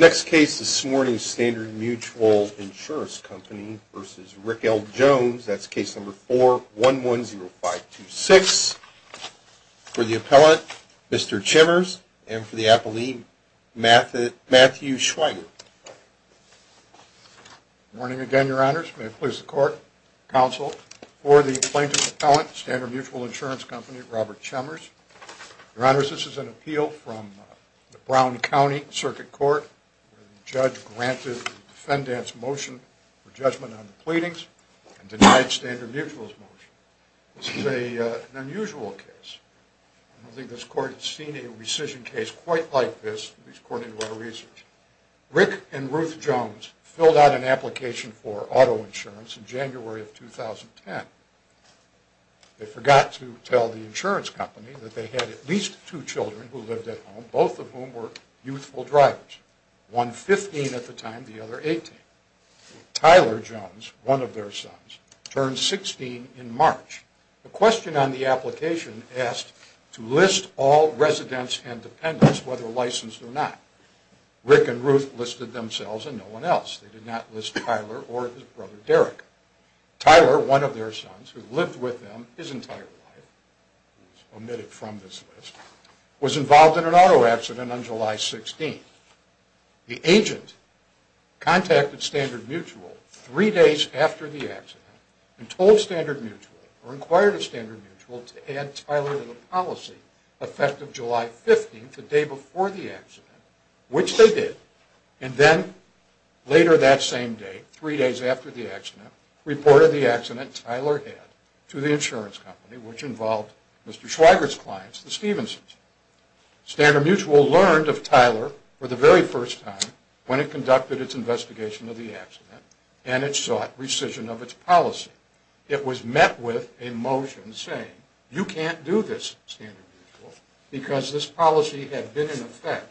Next case this morning, Standard Mutual Insurance Company v. Rick L. Jones. That's case number 4110526. For the appellant, Mr. Chimmers and for the appellee, Matthew Schweiger. Good morning again, Your Honors. May it please the Court, Counsel. For the plaintiff's appellant, Standard Mutual Insurance Company, Robert Chimmers. Your Honors, this is an appeal from the Brown County Circuit Court. The judge granted the defendant's motion for judgment on the pleadings and denied Standard Mutual's motion. This is an unusual case. I don't think this Court has seen a rescission case quite like this, at least according to our research. Rick and Ruth Jones filled out an application for auto insurance in January of 2010. They forgot to tell the insurance company that they had at least two children who lived at home, both of whom were youthful drivers. One 15 at the time, the other 18. Tyler Jones, one of their sons, turned 16 in March. The question on the application asked to list all residents and dependents, whether licensed or not. Rick and Ruth listed themselves and no one else. They did not list Tyler or his brother Derek. Tyler, one of their sons, who lived with them his entire life, was omitted from this list, was involved in an auto accident on July 16. The agent contacted Standard Mutual three days after the accident and told Standard Mutual, or inquired of Standard Mutual, to add Tyler to the policy effective July 15, the day before the accident, which they did. And then, later that same day, three days after the accident, reported the accident Tyler had to the insurance company, which involved Mr. Schweigert's clients, the Stephensons. Standard Mutual learned of Tyler for the very first time when it conducted its investigation of the accident and it sought rescission of its policy. It was met with a motion saying, you can't do this, Standard Mutual, because this policy had been in effect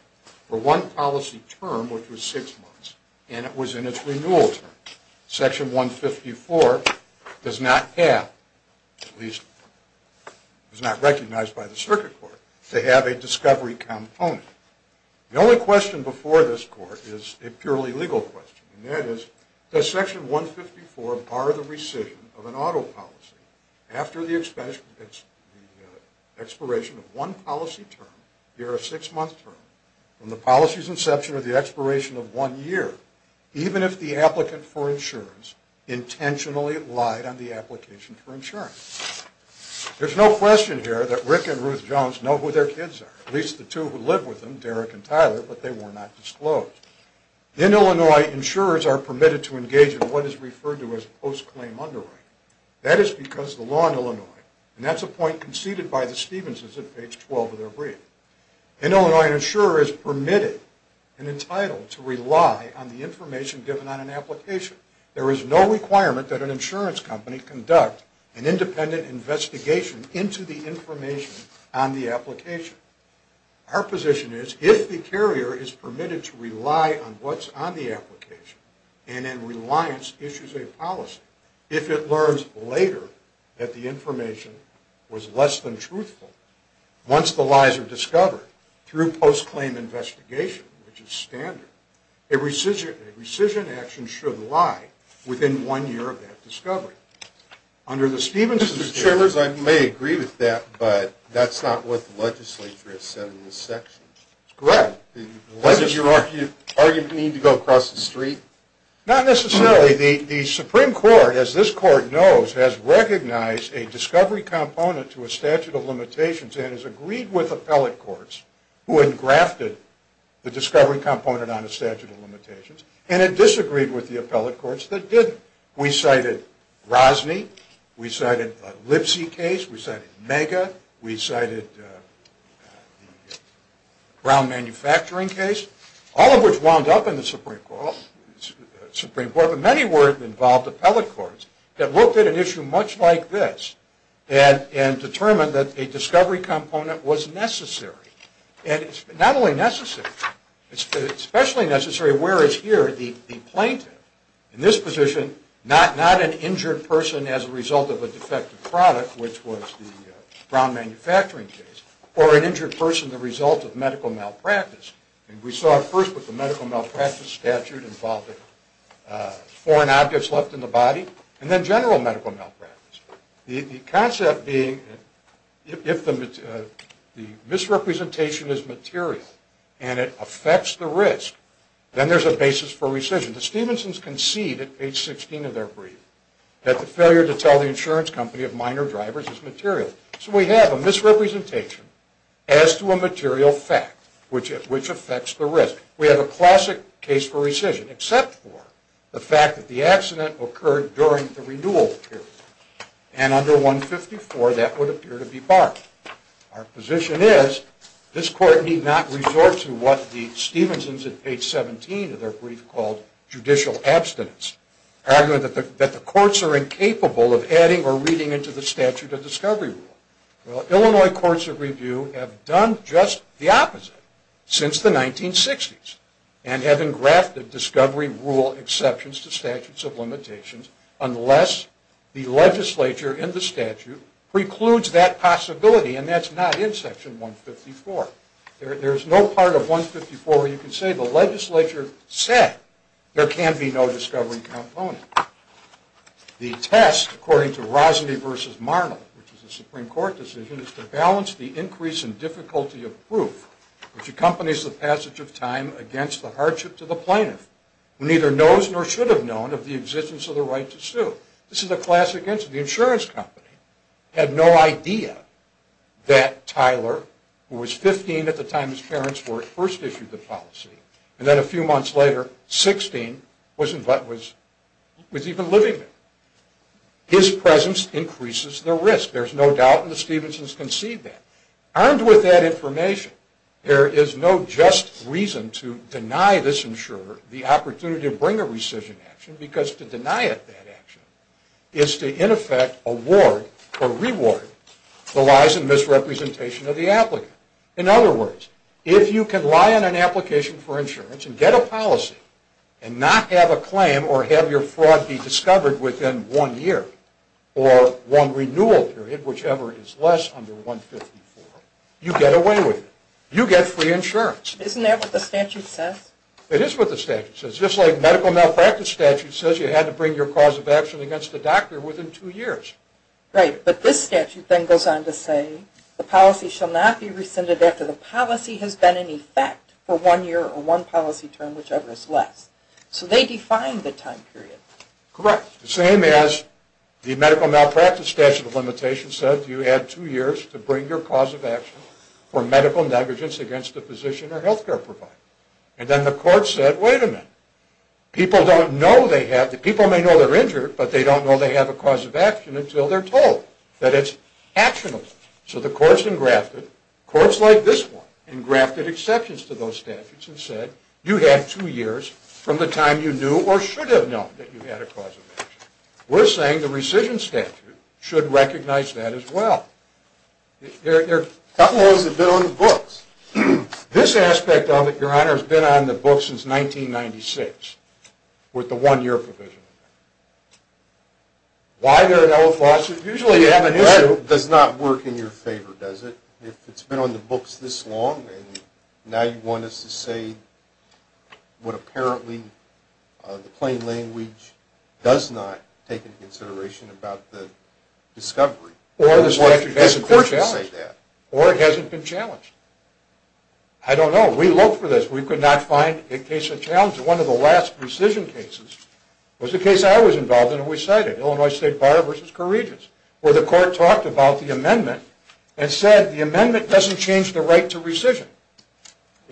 for one policy term, which was six months, and it was in its renewal term. Section 154 does not have, at least it was not recognized by the Circuit Court, to have a discovery component. The only question before this court is a purely legal question, and that is, does Section 154 bar the rescission of an auto policy after the expiration of one policy term, a year or six month term, from the policy's inception or the expiration of one year, even if the applicant for insurance intentionally lied on the application for insurance? There's no question here that Rick and Ruth Jones know who their kids are, at least the two who live with them, Derek and Tyler, but they were not disclosed. In Illinois, insurers are permitted to engage in what is referred to as post-claim underwriting. That is because of the law in Illinois, and that's a point conceded by the Stephensons at page 12 of their brief. In Illinois, an insurer is permitted and entitled to rely on the information given on an application. There is no requirement that an insurance company conduct an independent investigation into the information on the application. Our position is, if the carrier is permitted to rely on what's on the application and in reliance issues a policy, if it learns later that the information was less than truthful, once the lies are discovered, through post-claim investigation, which is standard, a rescission action should lie within one year of that discovery. Under the Stephensons... Mr. Chambers, I may agree with that, but that's not what the legislature has said in this section. Correct. Does your argument need to go across the street? Not necessarily. The Supreme Court, as this Court knows, has recognized a discovery component to a statute of limitations and has agreed with appellate courts who had grafted the discovery component on a statute of limitations, and it disagreed with the appellate courts that didn't. We cited Rosne, we cited Lipsy case, we cited Mega, we cited Brown Manufacturing case, all of which wound up in the Supreme Court, but many were involved appellate courts that looked at an issue much like this and determined that a discovery component was necessary. And it's not only necessary, it's especially necessary, whereas here, the plaintiff, in this position, not an injured person as a result of a defective product, which was the Brown Manufacturing case, or an injured person the result of medical malpractice. And we saw it first with the medical malpractice statute involving foreign objects left in the body, and then general medical malpractice. The concept being, if the misrepresentation is material and it affects the risk, then there's a basis for rescission. The Stephensons concede at page 16 of their brief that the failure to tell the insurance company of minor drivers is material. So we have a misrepresentation as to a material fact, which affects the risk. We have a classic case for rescission, except for the fact that the accident occurred during the renewal period. And under 154, that would appear to be barred. Our position is, this court need not resort to what the Stephensons at page 17 of their brief called judicial abstinence, arguing that the courts are incapable of adding or reading into the statute a discovery rule. Well, Illinois courts of review have done just the opposite since the 1960s, and have engrafted discovery rule exceptions to statutes of limitations, unless the legislature in the statute precludes that possibility. And that's not in section 154. There's no part of 154 where you can say the legislature said there can be no discovery component. The test, according to Rosne versus Marnell, which is a Supreme Court decision, is to balance the increase in difficulty of proof, which accompanies the passage of time against the hardship to the plaintiff, who neither knows nor should have known of the existence of the right to sue. This is a classic instance. The insurance company had no idea that Tyler, who was 15 at the time his parents were at first issued the policy, and then a few months later, 16, was even living there. His presence increases the risk. There's no doubt in the Stephensons' conceit then. Armed with that information, there is no just reason to deny this insurer the opportunity to bring a rescission action, because to deny it that action is to in effect award or reward the lies and misrepresentation of the applicant. In other words, if you can lie on an application for insurance and get a policy and not have a claim or have your fraud be discovered within one year or one renewal period, whichever is less under 154, you get away with it. You get free insurance. Isn't that what the statute says? It is what the statute says. Just like medical malpractice statute says you had to bring your cause of action against the doctor within two years. Right. But this statute then goes on to say the policy shall not be rescinded after the policy has been in effect for one year or one policy term, whichever is less. So they define the time period. Correct. The same as the medical malpractice statute of limitations said you had two years to bring your cause of action for medical negligence against a physician or health care provider. And then the court said, wait a minute. People don't know they have, people may know they're injured, but they don't know they have a cause of action until they're told that it's actionable. So the courts engrafted, courts like this one, engrafted exceptions to those statutes and said, you have two years from the time you knew or should have known that you had a cause of action. We're saying the rescission statute should recognize that as well. There are a couple of those that have been on the books. This aspect of it, Your Honor, has been on the books since 1996 with the one-year provision. Why there are no clauses? Usually you have an issue. That does not work in your favor, does it? If it's been on the books this long and now you want us to say what apparently the plain language does not take into consideration about the discovery. Or the statute hasn't been challenged. Or it hasn't been challenged. I don't know. We look for this. We could not find a case of challenge. One of the last rescission cases was a case I was involved in and we cited, Illinois State Bar v. Corregions, where the court talked about the amendment and said, the amendment doesn't change the right to rescission.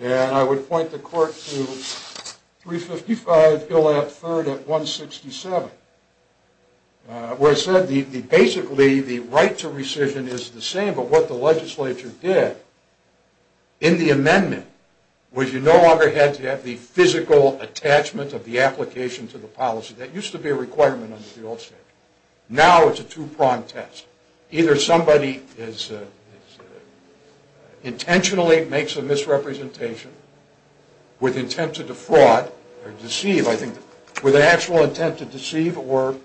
And I would point the court to 355, Bill F. Heard at 167, where it said, basically the right to rescission is the same, but what the legislature did in the amendment was you no longer had to have the physical attachment of the application to the policy. That used to be a requirement under the old statute. Now it's a two-pronged test. Either somebody intentionally makes a misrepresentation with intent to defraud or deceive, I think, with an actual intent to deceive or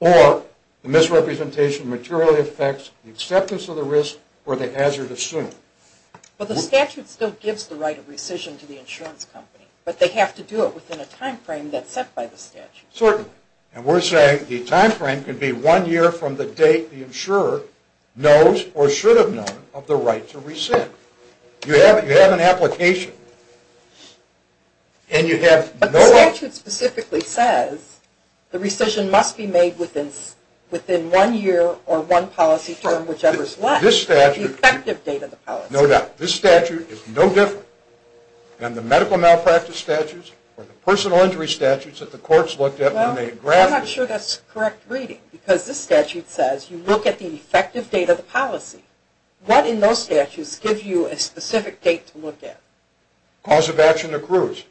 the misrepresentation materially affects the acceptance of the risk or the hazard assumed. Well, the statute still gives the right of rescission to the insurance company, but they have to do it within a time frame that's set by the statute. Certainly. And we're saying the time frame could be one year from the date the insurer knows or should have known of the right to rescind. You have an application. But the statute specifically says the rescission must be made within one year or one policy term, whichever is left, the effective date of the policy. No doubt. This statute is no different than the medical malpractice statutes or the personal injury statutes that the courts looked at when they drafted them. Well, I'm not sure that's correct reading because this statute says you look at the effective date of the policy. What in those statutes gives you a specific date to look at? Cause of action accrues.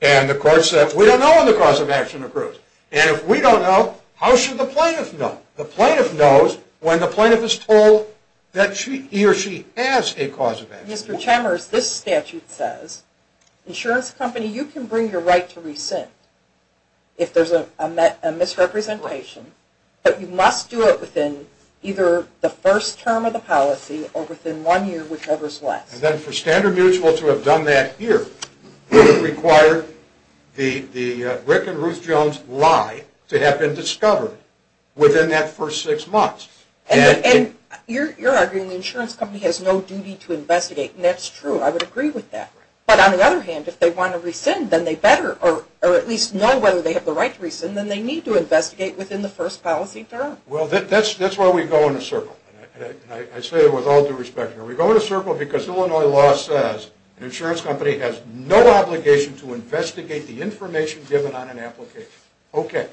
And the court said, we don't know when the cause of action accrues. And if we don't know, how should the plaintiff know? The plaintiff knows when the plaintiff is told that he or she has a cause of action. Mr. Chambers, this statute says, insurance company, you can bring your right to rescind if there's a misrepresentation, but you must do it within either the first term of the policy or within one year, whichever is left. And then for Standard Mutual to have done that here, it would require the Rick and Ruth Jones lie to have been discovered within that first six months. And you're arguing the insurance company has no duty to investigate. And that's true. I would agree with that. But on the other hand, if they want to rescind, then they better, or at least know whether they have the right to rescind, then they need to investigate within the first policy term. Well, that's why we go in a circle. And I say that with all due respect. We go in a circle because Illinois law says an insurance company has no obligation to investigate the information given on an application. Okay.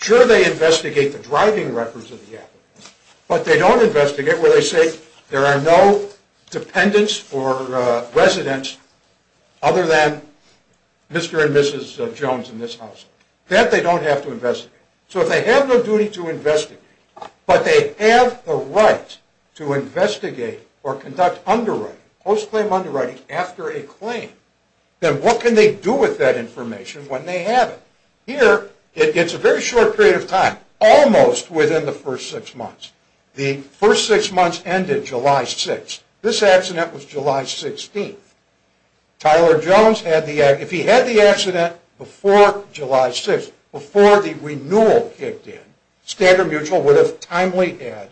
Sure, they investigate the driving records of the applicant, but they don't investigate where they say there are no dependents or residents other than Mr. and Mrs. Jones in this house. That they don't have to investigate. So if they have no duty to investigate, but they have the right to investigate or conduct underwriting, post-claim underwriting after a claim, then what can they do with that information when they have it? Here, it's a very short period of time, almost within the first six months. The first six months ended July 6th. This accident was July 16th. Tyler Jones, if he had the accident before July 6th, before the renewal kicked in, Skander Mutual would have timely had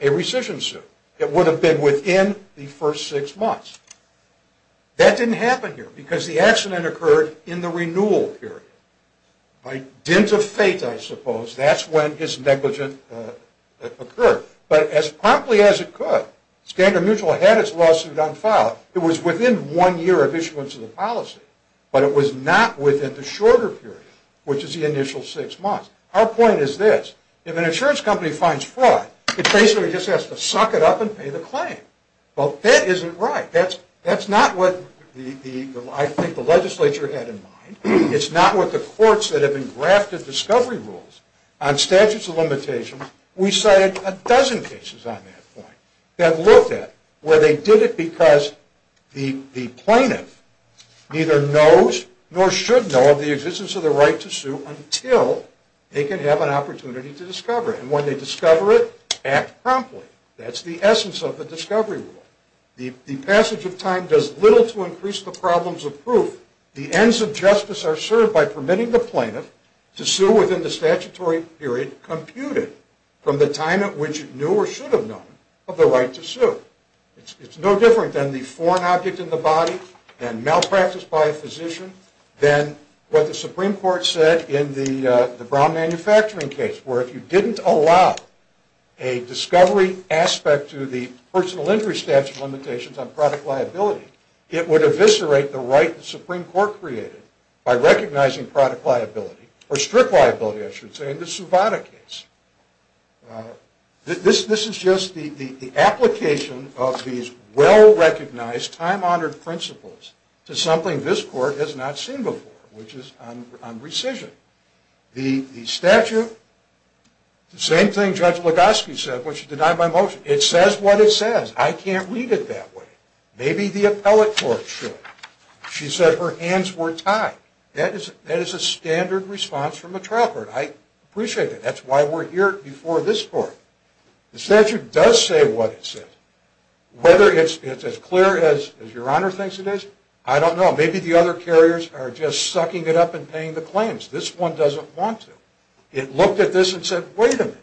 a rescission suit. It would have been within the first six months. That didn't happen here because the accident occurred in the renewal period. By dint of fate, I suppose, that's when his negligence occurred. But as promptly as it could, Skander Mutual had its lawsuit unfiled. It was within one year of issuance of the policy, but it was not within the shorter period, which is the initial six months. Our point is this. If an insurance company finds fraud, it basically just has to suck it up and pay the claim. Well, that isn't right. That's not what I think the legislature had in mind. It's not what the courts that have been drafted discovery rules on statutes of limitations. We cited a dozen cases on that point that looked at where they did it because the plaintiff neither knows nor should know of the existence of the right to sue until they can have an opportunity to discover it. And when they discover it, act promptly. That's the essence of the discovery rule. The passage of time does little to increase the problems of proof. The ends of justice are served by permitting the plaintiff to sue within the statutory period computed from the time at which it knew or should have known of the right to sue. It's no different than the foreign object in the body, than malpractice by a physician, than what the Supreme Court said in the Brown manufacturing case, where if you didn't allow a discovery aspect to the personal injury statute limitations on product liability, it would eviscerate the right the Supreme Court created by recognizing product liability, or strict liability, I should say, in the Suvada case. This is just the application of these well-recognized, time-honored principles to something this court has not seen before, which is on rescission. The statute, the same thing Judge Legosky said when she denied my motion. It says what it says. I can't read it that way. Maybe the appellate court should. She said her hands were tied. That is a standard response from a trial court. I appreciate that. That's why we're here before this court. The statute does say what it says. Whether it's as clear as Your Honor thinks it is, I don't know. Maybe the other carriers are just sucking it up and paying the claims. This one doesn't want to. It looked at this and said, wait a minute.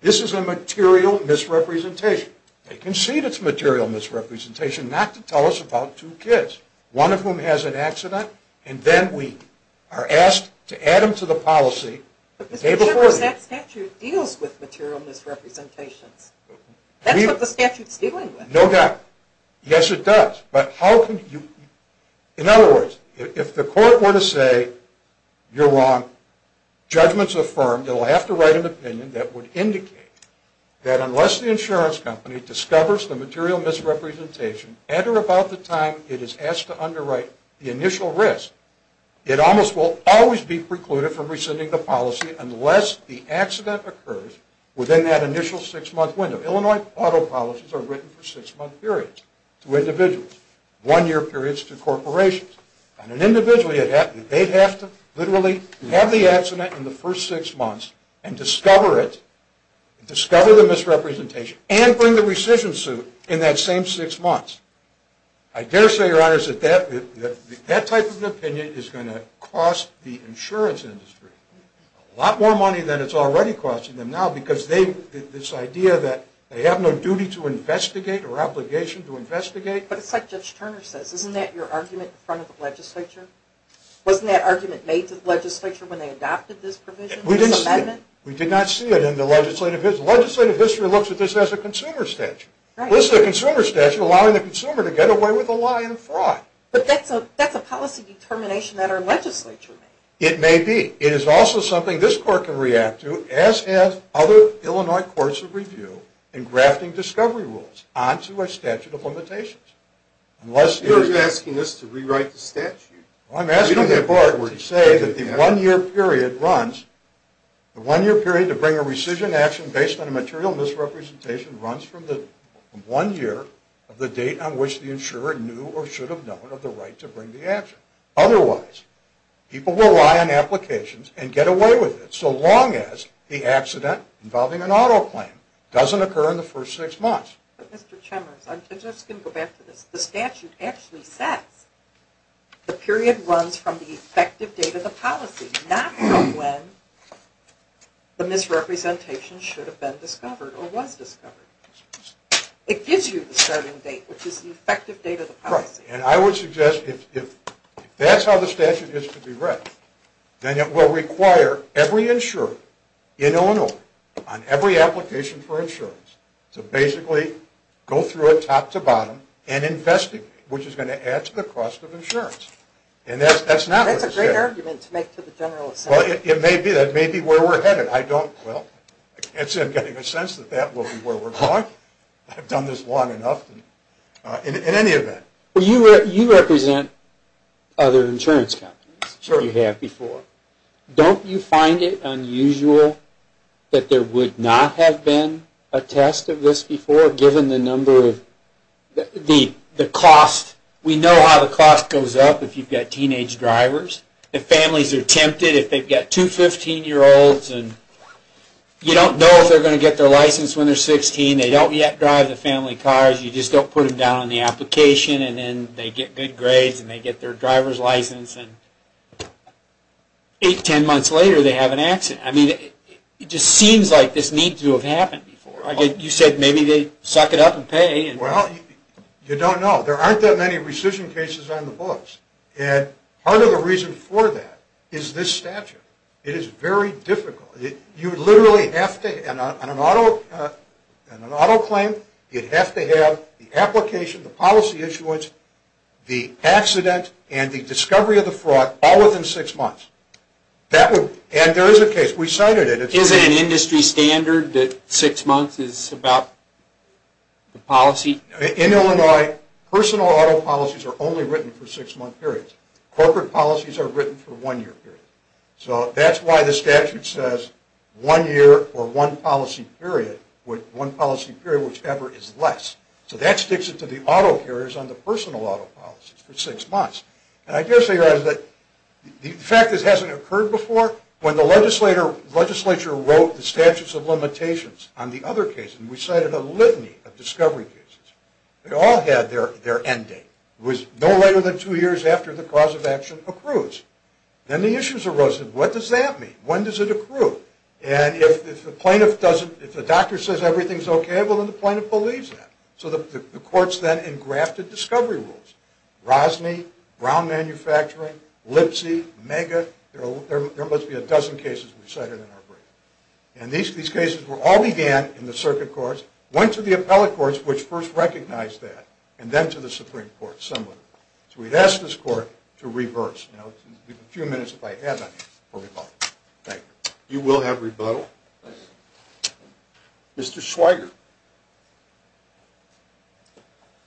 This is a material misrepresentation. They concede it's a material misrepresentation not to tell us about two kids, one of whom has an accident, and then we are asked to add them to the policy. But, Mr. Judge, that statute deals with material misrepresentations. That's what the statute's dealing with. No doubt. Yes, it does. But how can you... In other words, if the court were to say, you're wrong. Judgment's affirmed. It'll have to write an opinion that would indicate that unless the insurance company discovers the material misrepresentation at or about the time it is asked to underwrite the initial risk, it almost will always be precluded from rescinding the policy unless the accident occurs within that initial six-month window. Illinois auto policies are written for six-month periods to individuals, one-year periods to corporations. And an individual, they'd have to literally have the accident in the first six months and discover it, discover the misrepresentation, and bring the rescission suit in that same six months. I dare say, Your Honors, that that type of opinion is going to cost the insurance industry a lot more money than it's already costing them now because this idea that they have no duty to investigate or obligation to investigate... But it's like Judge Turner says. Isn't that your argument in front of the legislature? Wasn't that argument made to the legislature when they adopted this provision, this amendment? We did not see it in the legislative history. Because the legislative history looks at this as a consumer statute. This is a consumer statute allowing the consumer to get away with a lie and a fraud. But that's a policy determination that our legislature made. It may be. It is also something this Court can react to, as have other Illinois courts of review, in grafting discovery rules onto a statute of limitations. You're asking us to rewrite the statute? I'm asking the Court to say that the one-year period runs, the one-year period to bring a rescission action based on a material misrepresentation runs from the one year of the date on which the insurer knew or should have known of the right to bring the action. Otherwise, people will lie on applications and get away with it so long as the accident involving an auto claim doesn't occur in the first six months. But, Mr. Chemers, I'm just going to go back to this. The statute actually says the period runs from the effective date of the policy, not from when the misrepresentation should have been discovered or was discovered. It gives you the starting date, which is the effective date of the policy. And I would suggest if that's how the statute is to be read, then it will require every insurer in Illinois on every application for insurance to basically go through it top to bottom and investigate, which is going to add to the cost of insurance. And that's not what it says. That's a great argument to make to the general assembly. Well, it may be. That may be where we're headed. I don't, well, I can't say I'm getting a sense that that will be where we're going. I've done this long enough. In any event. Well, you represent other insurance companies. Sure. You have before. Don't you find it unusual that there would not have been a test of this before, given the number of the cost? We know how the cost goes up if you've got teenage drivers. If families are tempted, if they've got two 15-year-olds and you don't know if they're going to get their license when they're 16. They don't yet drive the family cars. You just don't put them down on the application, and then they get good grades and they get their driver's license, and eight, ten months later, they have an accident. I mean, it just seems like this needs to have happened before. You said maybe they suck it up and pay. Well, you don't know. There aren't that many rescission cases on the books, and part of the reason for that is this statute. It is very difficult. You literally have to, on an auto claim, you have to have the application, the policy issuance, the accident, and the discovery of the fraud all within six months. And there is a case. We cited it. Is it an industry standard that six months is about the policy? In Illinois, personal auto policies are only written for six-month periods. Corporate policies are written for one-year periods. So that's why the statute says one year or one policy period, one policy period, whichever is less. So that sticks it to the auto carriers on the personal auto policies for six months. And I do have to say, the fact that this hasn't occurred before, when the legislature wrote the statutes of limitations on the other cases, we cited a litany of discovery cases. They all had their end date. It was no later than two years after the cause of action accrues. Then the issues arose. What does that mean? When does it accrue? And if the doctor says everything is okay, well, then the plaintiff believes that. So the courts then engrafted discovery rules. Rosny, Brown Manufacturing, Lipsy, Mega. There must be a dozen cases we cited in our brief. And these cases all began in the circuit courts, went to the appellate courts, which first recognized that, and then to the Supreme Court, similar. So we asked this court to reverse. You know, a few minutes, if I have any, before we vote. Thank you. You will have rebuttal. Mr. Schweiger.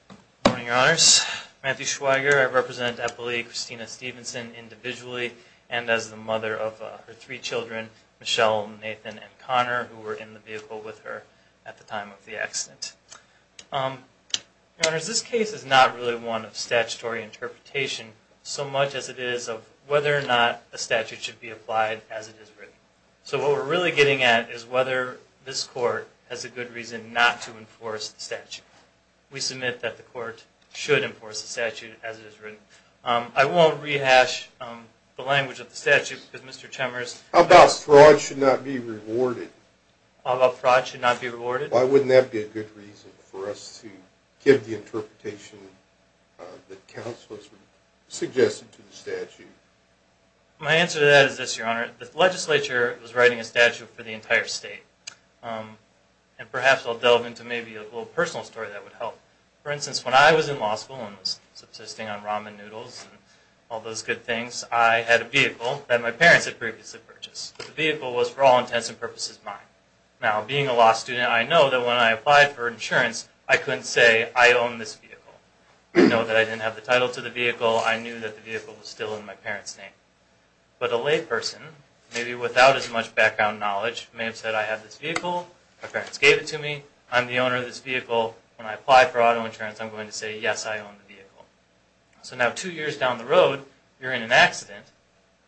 Good morning, Your Honors. Matthew Schweiger. I represent Appellee Christina Stevenson individually and as the mother of her three children, Michelle, Nathan, and Connor, who were in the vehicle with her at the time of the accident. Your Honors, this case is not really one of statutory interpretation so much as it is of whether or not a statute should be applied as it is written. So what we're really getting at is whether this court has a good reason not to enforce the statute. We submit that the court should enforce the statute as it is written. I won't rehash the language of the statute because Mr. Chemers How about fraud should not be rewarded? How about fraud should not be rewarded? Why wouldn't that be a good reason for us to give the interpretation My answer to that is this, Your Honor. The legislature was writing a statute for the entire state. And perhaps I'll delve into maybe a little personal story that would help. For instance, when I was in law school and was subsisting on ramen noodles and all those good things, I had a vehicle that my parents had previously purchased. The vehicle was for all intents and purposes mine. Now, being a law student, I know that when I applied for insurance, I couldn't say, I own this vehicle. I know that I didn't have the title to the vehicle. I knew that the vehicle was still in my parents' name. But a layperson, maybe without as much background knowledge, may have said, I have this vehicle, my parents gave it to me, I'm the owner of this vehicle, when I apply for auto insurance, I'm going to say, yes, I own the vehicle. So now two years down the road, you're in an accident,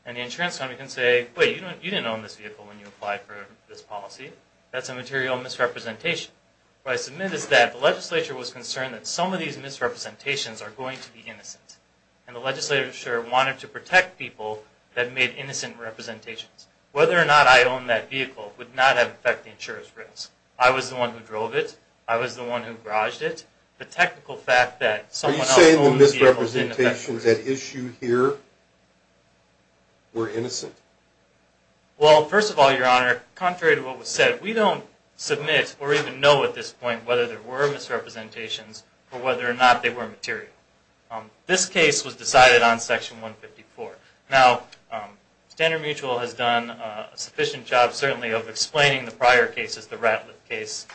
and the insurance company can say, wait, you didn't own this vehicle when you applied for this policy. That's a material misrepresentation. What I submit is that the legislature was concerned that some of these misrepresentations are going to be innocent. And the legislature wanted to protect people that made innocent representations. Whether or not I own that vehicle would not affect the insurance risk. I was the one who drove it. I was the one who garaged it. The technical fact that someone else owned the vehicle didn't affect the risk. Are you saying the misrepresentations at issue here were innocent? Well, first of all, Your Honor, contrary to what was said, we don't submit or even know at this point whether there were misrepresentations or whether or not they were material. This case was decided on Section 154. Now, Standard Mutual has done a sufficient job, certainly, of explaining the prior cases, the Ratliff case,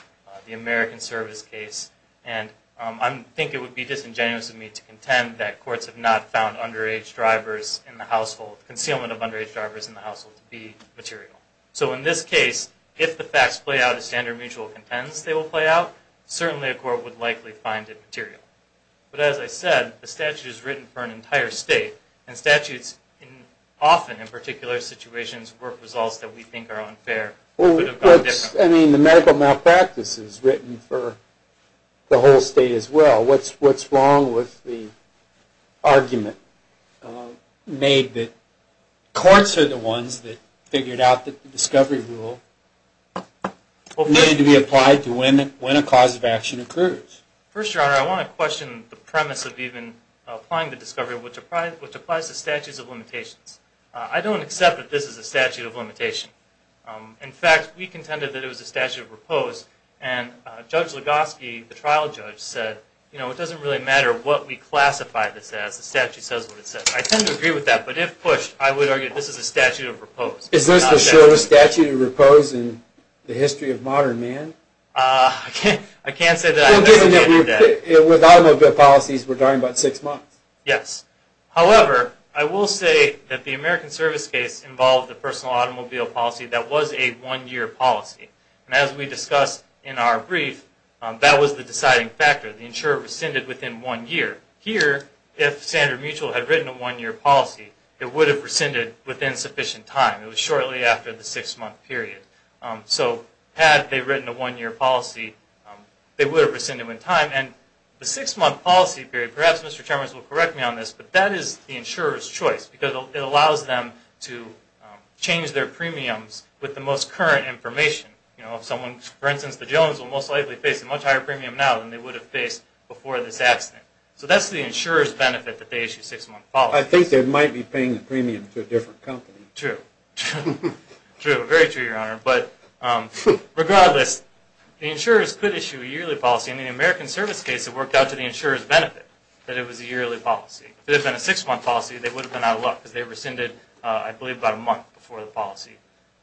the American Service case, and I think it would be disingenuous of me to contend that courts have not found concealment of underage drivers in the household to be material. So in this case, if the facts play out as Standard Mutual contends they will play out, certainly a court would likely find it material. But as I said, the statute is written for an entire state, and statutes often, in particular situations, work results that we think are unfair. I mean, the medical malpractice is written for the whole state as well. What's wrong with the argument made that courts are the ones that figured out that the discovery rule needed to be applied to when a cause of action occurs? First, Your Honor, I want to question the premise of even applying the discovery which applies to statutes of limitations. I don't accept that this is a statute of limitation. In fact, we contended that it was a statute of repose, and Judge Legoski, the trial judge, said, you know, it doesn't really matter what we classify this as, the statute says what it says. I tend to agree with that, but if pushed, I would argue this is a statute of repose. Is this the shortest statute of repose in the history of modern man? I can't say that I have an opinion on that. With automobile policies, we're talking about six months. Yes. However, I will say that the American Service case involved a personal automobile policy that was a one-year policy, and as we discussed in our brief, that was the deciding factor. The insurer rescinded within one year. Here, if Sander Mutual had written a one-year policy, it would have rescinded within sufficient time. It was shortly after the six-month period. So had they written a one-year policy, they would have rescinded within time. And the six-month policy period, perhaps Mr. Chalmers will correct me on this, but that is the insurer's choice because it allows them to change their premiums with the most current information. For instance, the Jones will most likely face a much higher premium now than they would have faced before this accident. So that's the insurer's benefit that they issue a six-month policy. I think they might be paying the premium to a different company. True. True, very true, Your Honor. But regardless, the insurers could issue a yearly policy, and in the American Service case it worked out to the insurer's benefit that it was a yearly policy. If it had been a six-month policy, they would have been out of luck because they rescinded, I believe, about a month before the policy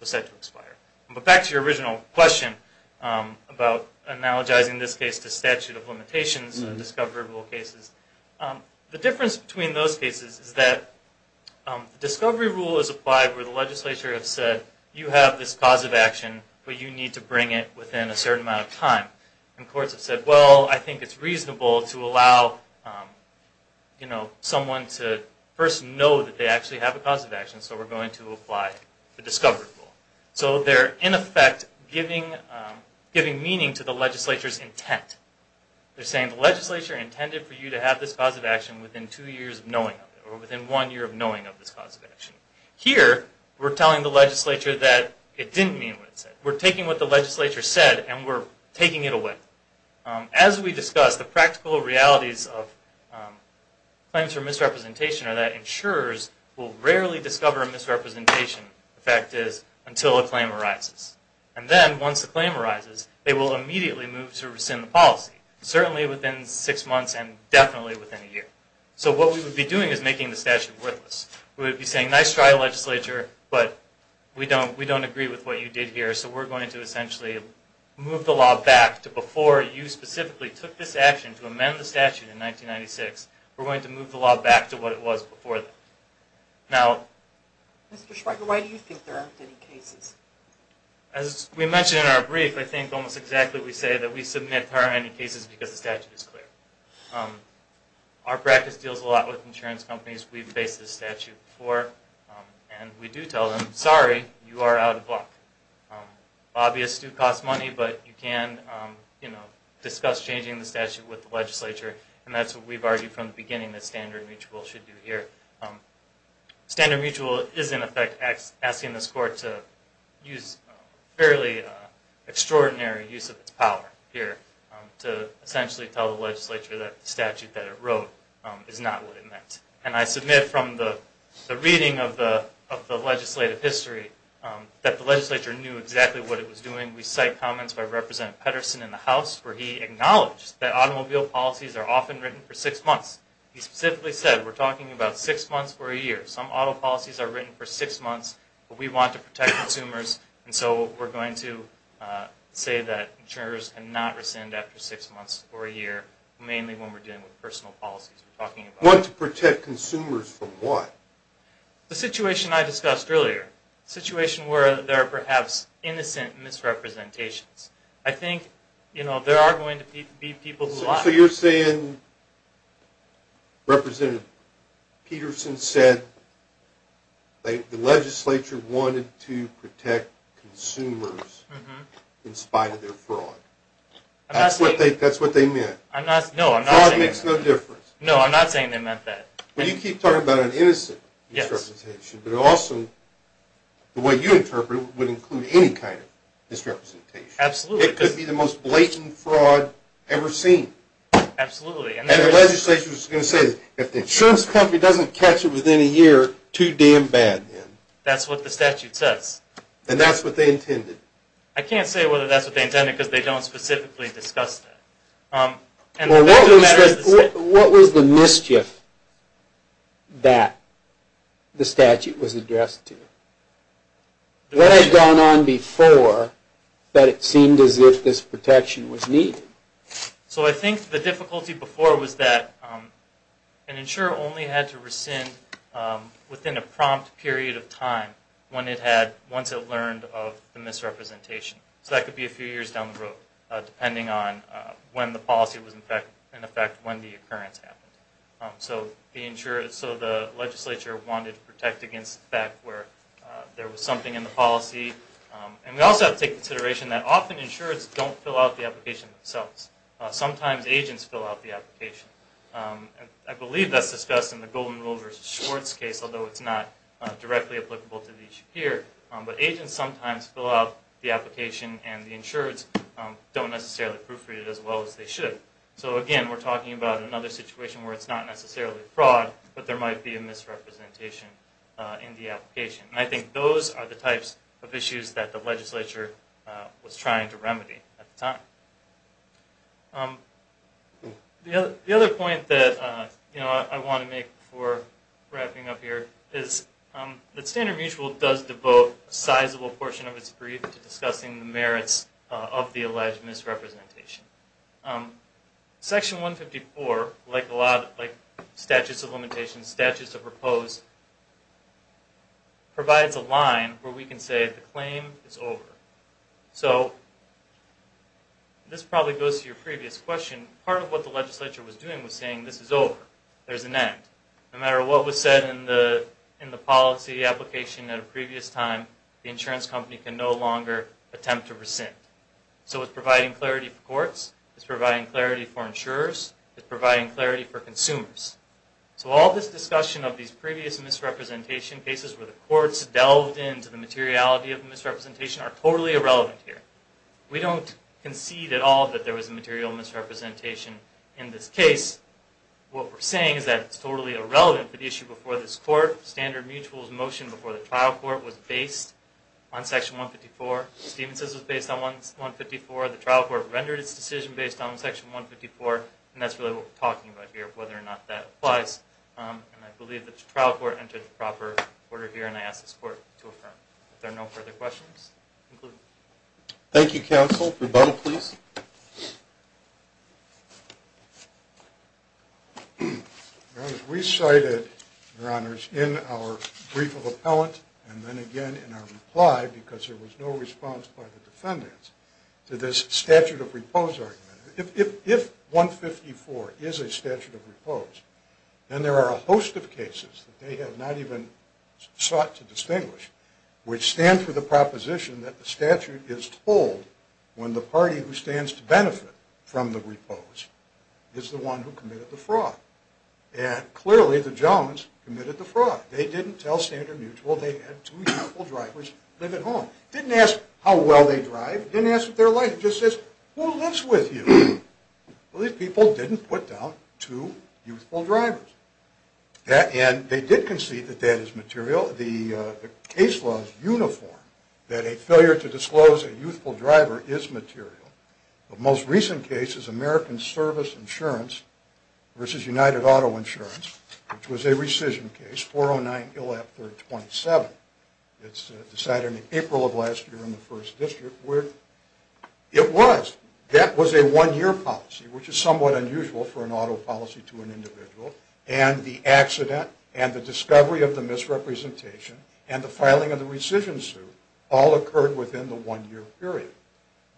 was set to expire. But back to your original question about analogizing this case to statute of limitations and discovery rule cases. The difference between those cases is that the discovery rule is applied where the legislature has said you have this cause of action, but you need to bring it within a certain amount of time. And courts have said, well, I think it's reasonable to allow someone to first know that they actually have a cause of action, so we're going to apply the discovery rule. So they're, in effect, giving meaning to the legislature's intent. They're saying the legislature intended for you to have this cause of action within two years of knowing of it, or within one year of knowing of this cause of action. Here, we're telling the legislature that it didn't mean what it said. We're taking what the legislature said and we're taking it away. As we discussed, the practical realities of claims for misrepresentation are that insurers will rarely discover a misrepresentation, the fact is, until a claim arises. And then, once a claim arises, they will immediately move to rescind the policy, certainly within six months and definitely within a year. So what we would be doing is making the statute worthless. We would be saying, nice try, legislature, but we don't agree with what you did here, so we're going to essentially move the law back to before you specifically took this action to amend the statute in 1996. We're going to move the law back to what it was before that. Now... Mr. Schweiger, why do you think there aren't any cases? As we mentioned in our brief, I think almost exactly what we say, that we submit there aren't any cases because the statute is clear. Our practice deals a lot with insurance companies. We've faced this statute before and we do tell them, sorry, you are out of luck. Obvious, it does cost money, but you can discuss changing the statute with the legislature and that's what we've argued from the beginning that Standard Mutual should do here. Standard Mutual is, in effect, asking this court to use fairly extraordinary use of its power here to essentially tell the legislature that the statute that it wrote is not what it meant. And I submit from the reading of the legislative history that the legislature knew exactly what it was doing. We cite comments by Representative Pedersen in the House where he acknowledged that automobile policies are often written for six months. He specifically said, we're talking about six months or a year. Some auto policies are written for six months, but we want to protect consumers and so we're going to say that insurers cannot rescind after six months or a year, mainly when we're dealing with personal policies we're talking about. Want to protect consumers from what? The situation I discussed earlier. A situation where there are perhaps innocent misrepresentations. I think, you know, there are going to be people who lie. So you're saying Representative Pedersen said the legislature wanted to protect consumers in spite of their fraud. That's what they meant. No, I'm not saying that. Fraud makes no difference. No, I'm not saying they meant that. Well, you keep talking about an innocent misrepresentation, but also the way you interpret it would include any kind of misrepresentation. Absolutely. It could be the most blatant fraud ever seen. Absolutely. And the legislature was going to say, if the insurance company doesn't catch it within a year, too damn bad then. That's what the statute says. And that's what they intended. I can't say whether that's what they intended because they don't specifically discuss that. What was the mischief that the statute was addressed to? What had gone on before that it seemed as if this protection was needed? So I think the difficulty before was that an insurer only had to rescind within a prompt period of time once it learned of the misrepresentation. So that could be a few years down the road, depending on when the policy was in effect and when the occurrence happened. So the legislature wanted to protect against the fact where there was something in the policy. And we also have to take into consideration that often insurers don't fill out the application themselves. Sometimes agents fill out the application. I believe that's discussed in the Golden Rule versus Schwartz case, although it's not directly applicable to the issue here. But agents sometimes fill out the application and the insurers don't necessarily proofread it as well as they should. So again, we're talking about another situation where it's not necessarily fraud, but there might be a misrepresentation in the application. And I think those are the types of issues that the legislature was trying to remedy at the time. The other point that I want to make before wrapping up here is that Standard Mutual does devote a sizable portion of its brief to discussing the merits of the alleged misrepresentation. Section 154, like Statutes of Limitations, Statutes of Proposed, provides a line where we can say the claim is over. So, this probably goes to your previous question, part of what the legislature was doing was saying this is over. There's an end. No matter what was said in the policy application at a previous time, the insurance company can no longer attempt to rescind. So, it's providing clarity for courts. It's providing clarity for insurers. It's providing clarity for consumers. So, all this discussion of these previous misrepresentation cases where the courts delved into the materiality of the misrepresentation are totally irrelevant here. We don't concede at all that there was a material misrepresentation in this case. What we're saying is that it's totally irrelevant for the issue before this court. Standard Mutual's motion before the trial court was based on Section 154. Stevenson's was based on 154. The trial court rendered its decision based on Section 154, and that's really what we're talking about here, whether or not that applies. And I believe the trial court entered the proper order here, and I ask this court to affirm. If there are no further questions, conclude. Thank you, counsel. Rebuttal, please. We cited, Your Honors, in our brief of appellant, and then again in our reply, because there was no response by the defendants, to this statute of repose argument. If 154 is a statute of repose, then there are a host of cases that they have not even sought to distinguish, which stand for the proposition that the statute is told when the party who stands to benefit from the repose is the one who committed the fraud. And clearly, the Jones committed the fraud. They didn't tell Standard Mutual they had two youthful drivers live at home. Didn't ask how well they drive. Didn't ask what their life is. Just says, who lives with you? Well, these people didn't put down two youthful drivers. And they did concede that that is material. The case law is uniform, that a failure to disclose a youthful driver is material. The most recent case is American Service Insurance versus United Auto Insurance, which was a rescission case, 409 ILL-F-327. It's decided in April of last year in the First District, where it was. That was a one-year policy, which is somewhat unusual for an auto policy to an individual. And the accident and the discovery of the misrepresentation and the filing of the rescission suit all occurred within the one-year period.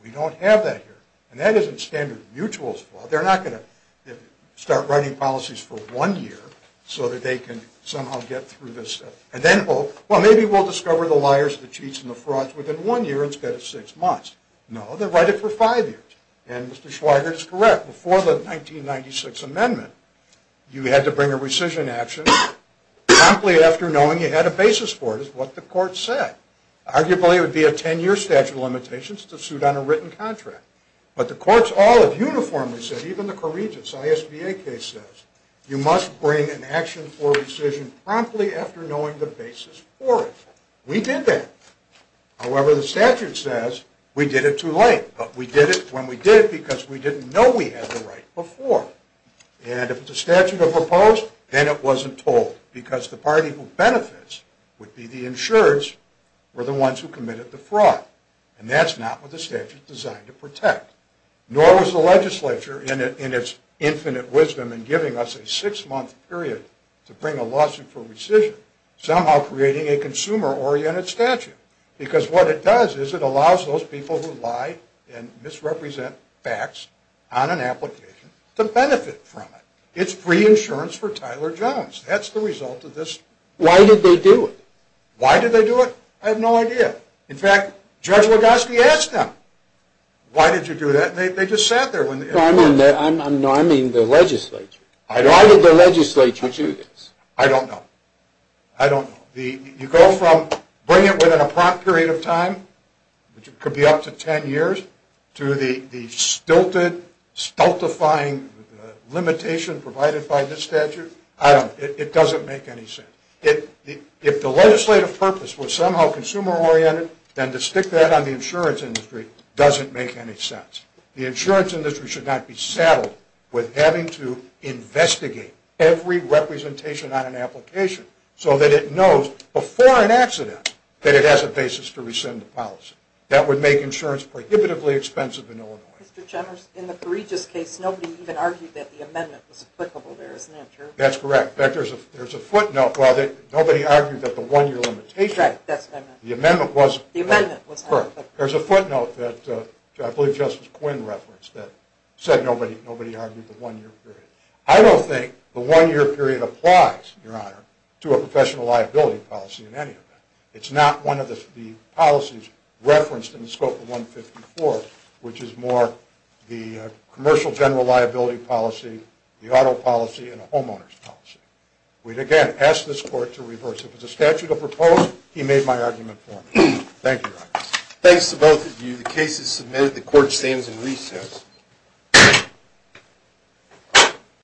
We don't have that here. And that isn't Standard Mutual's fault. They're not going to start writing policies for one year so that they can somehow get through this. And then, oh, well, maybe we'll discover the liars, the cheats, and the frauds within one year instead of six months. No, they'll write it for five years. And Mr. Schweiger is correct. Before the 1996 amendment, you had to bring a rescission action promptly after knowing you had a basis for it, is what the court said. Arguably, it would be a 10-year statute of limitations to suit on a written contract. But the courts all have uniformly said, even the Corregents, the ISBA case says, you must bring an action for rescission promptly after knowing the basis for it. We did that. However, the statute says we did it too late. But we did it when we did it because we didn't know we had the right before. And if the statute had proposed, then it wasn't told because the party who benefits would be the insurers or the ones who committed the fraud. And that's not what the statute is designed to protect. Nor was the legislature, in its infinite wisdom in giving us a six-month period to bring a lawsuit for rescission, somehow creating a consumer-oriented statute. Because what it does is it allows those people who lie and misrepresent facts on an application to benefit from it. It's free insurance for Tyler Jones. That's the result of this. Why did they do it? Why did they do it? I have no idea. In fact, Judge Lugoski asked them, why did you do that? And they just sat there. No, I mean the legislature. Why did the legislature do this? I don't know. I don't know. You go from bring it within a prompt period of time, which could be up to ten years, to the stilted, stultifying limitation provided by this statute. I don't know. It doesn't make any sense. If the legislative purpose was somehow consumer-oriented, then to stick that on the insurance industry doesn't make any sense. The insurance industry should not be saddled with having to investigate every representation on an application, so that it knows before an accident that it has a basis to rescind the policy. That would make insurance prohibitively expensive in Illinois. Mr. Chalmers, in the Correigious case, nobody even argued that the amendment was applicable there, isn't that true? That's correct. In fact, there's a footnote. Nobody argued that the one-year limitation. Right, that's what I meant. The amendment was. The amendment was. That's correct. There's a footnote that I believe Justice Quinn referenced that said nobody argued the one-year period. I don't think the one-year period applies, Your Honor, to a professional liability policy in any event. It's not one of the policies referenced in the scope of 154, which is more the commercial general liability policy, the auto policy, and the homeowners policy. We'd, again, ask this court to reverse it. If it's a statute of proposed, he made my argument for me. Thank you, Your Honor. Thanks to both of you. The case is submitted. The court stands in recess.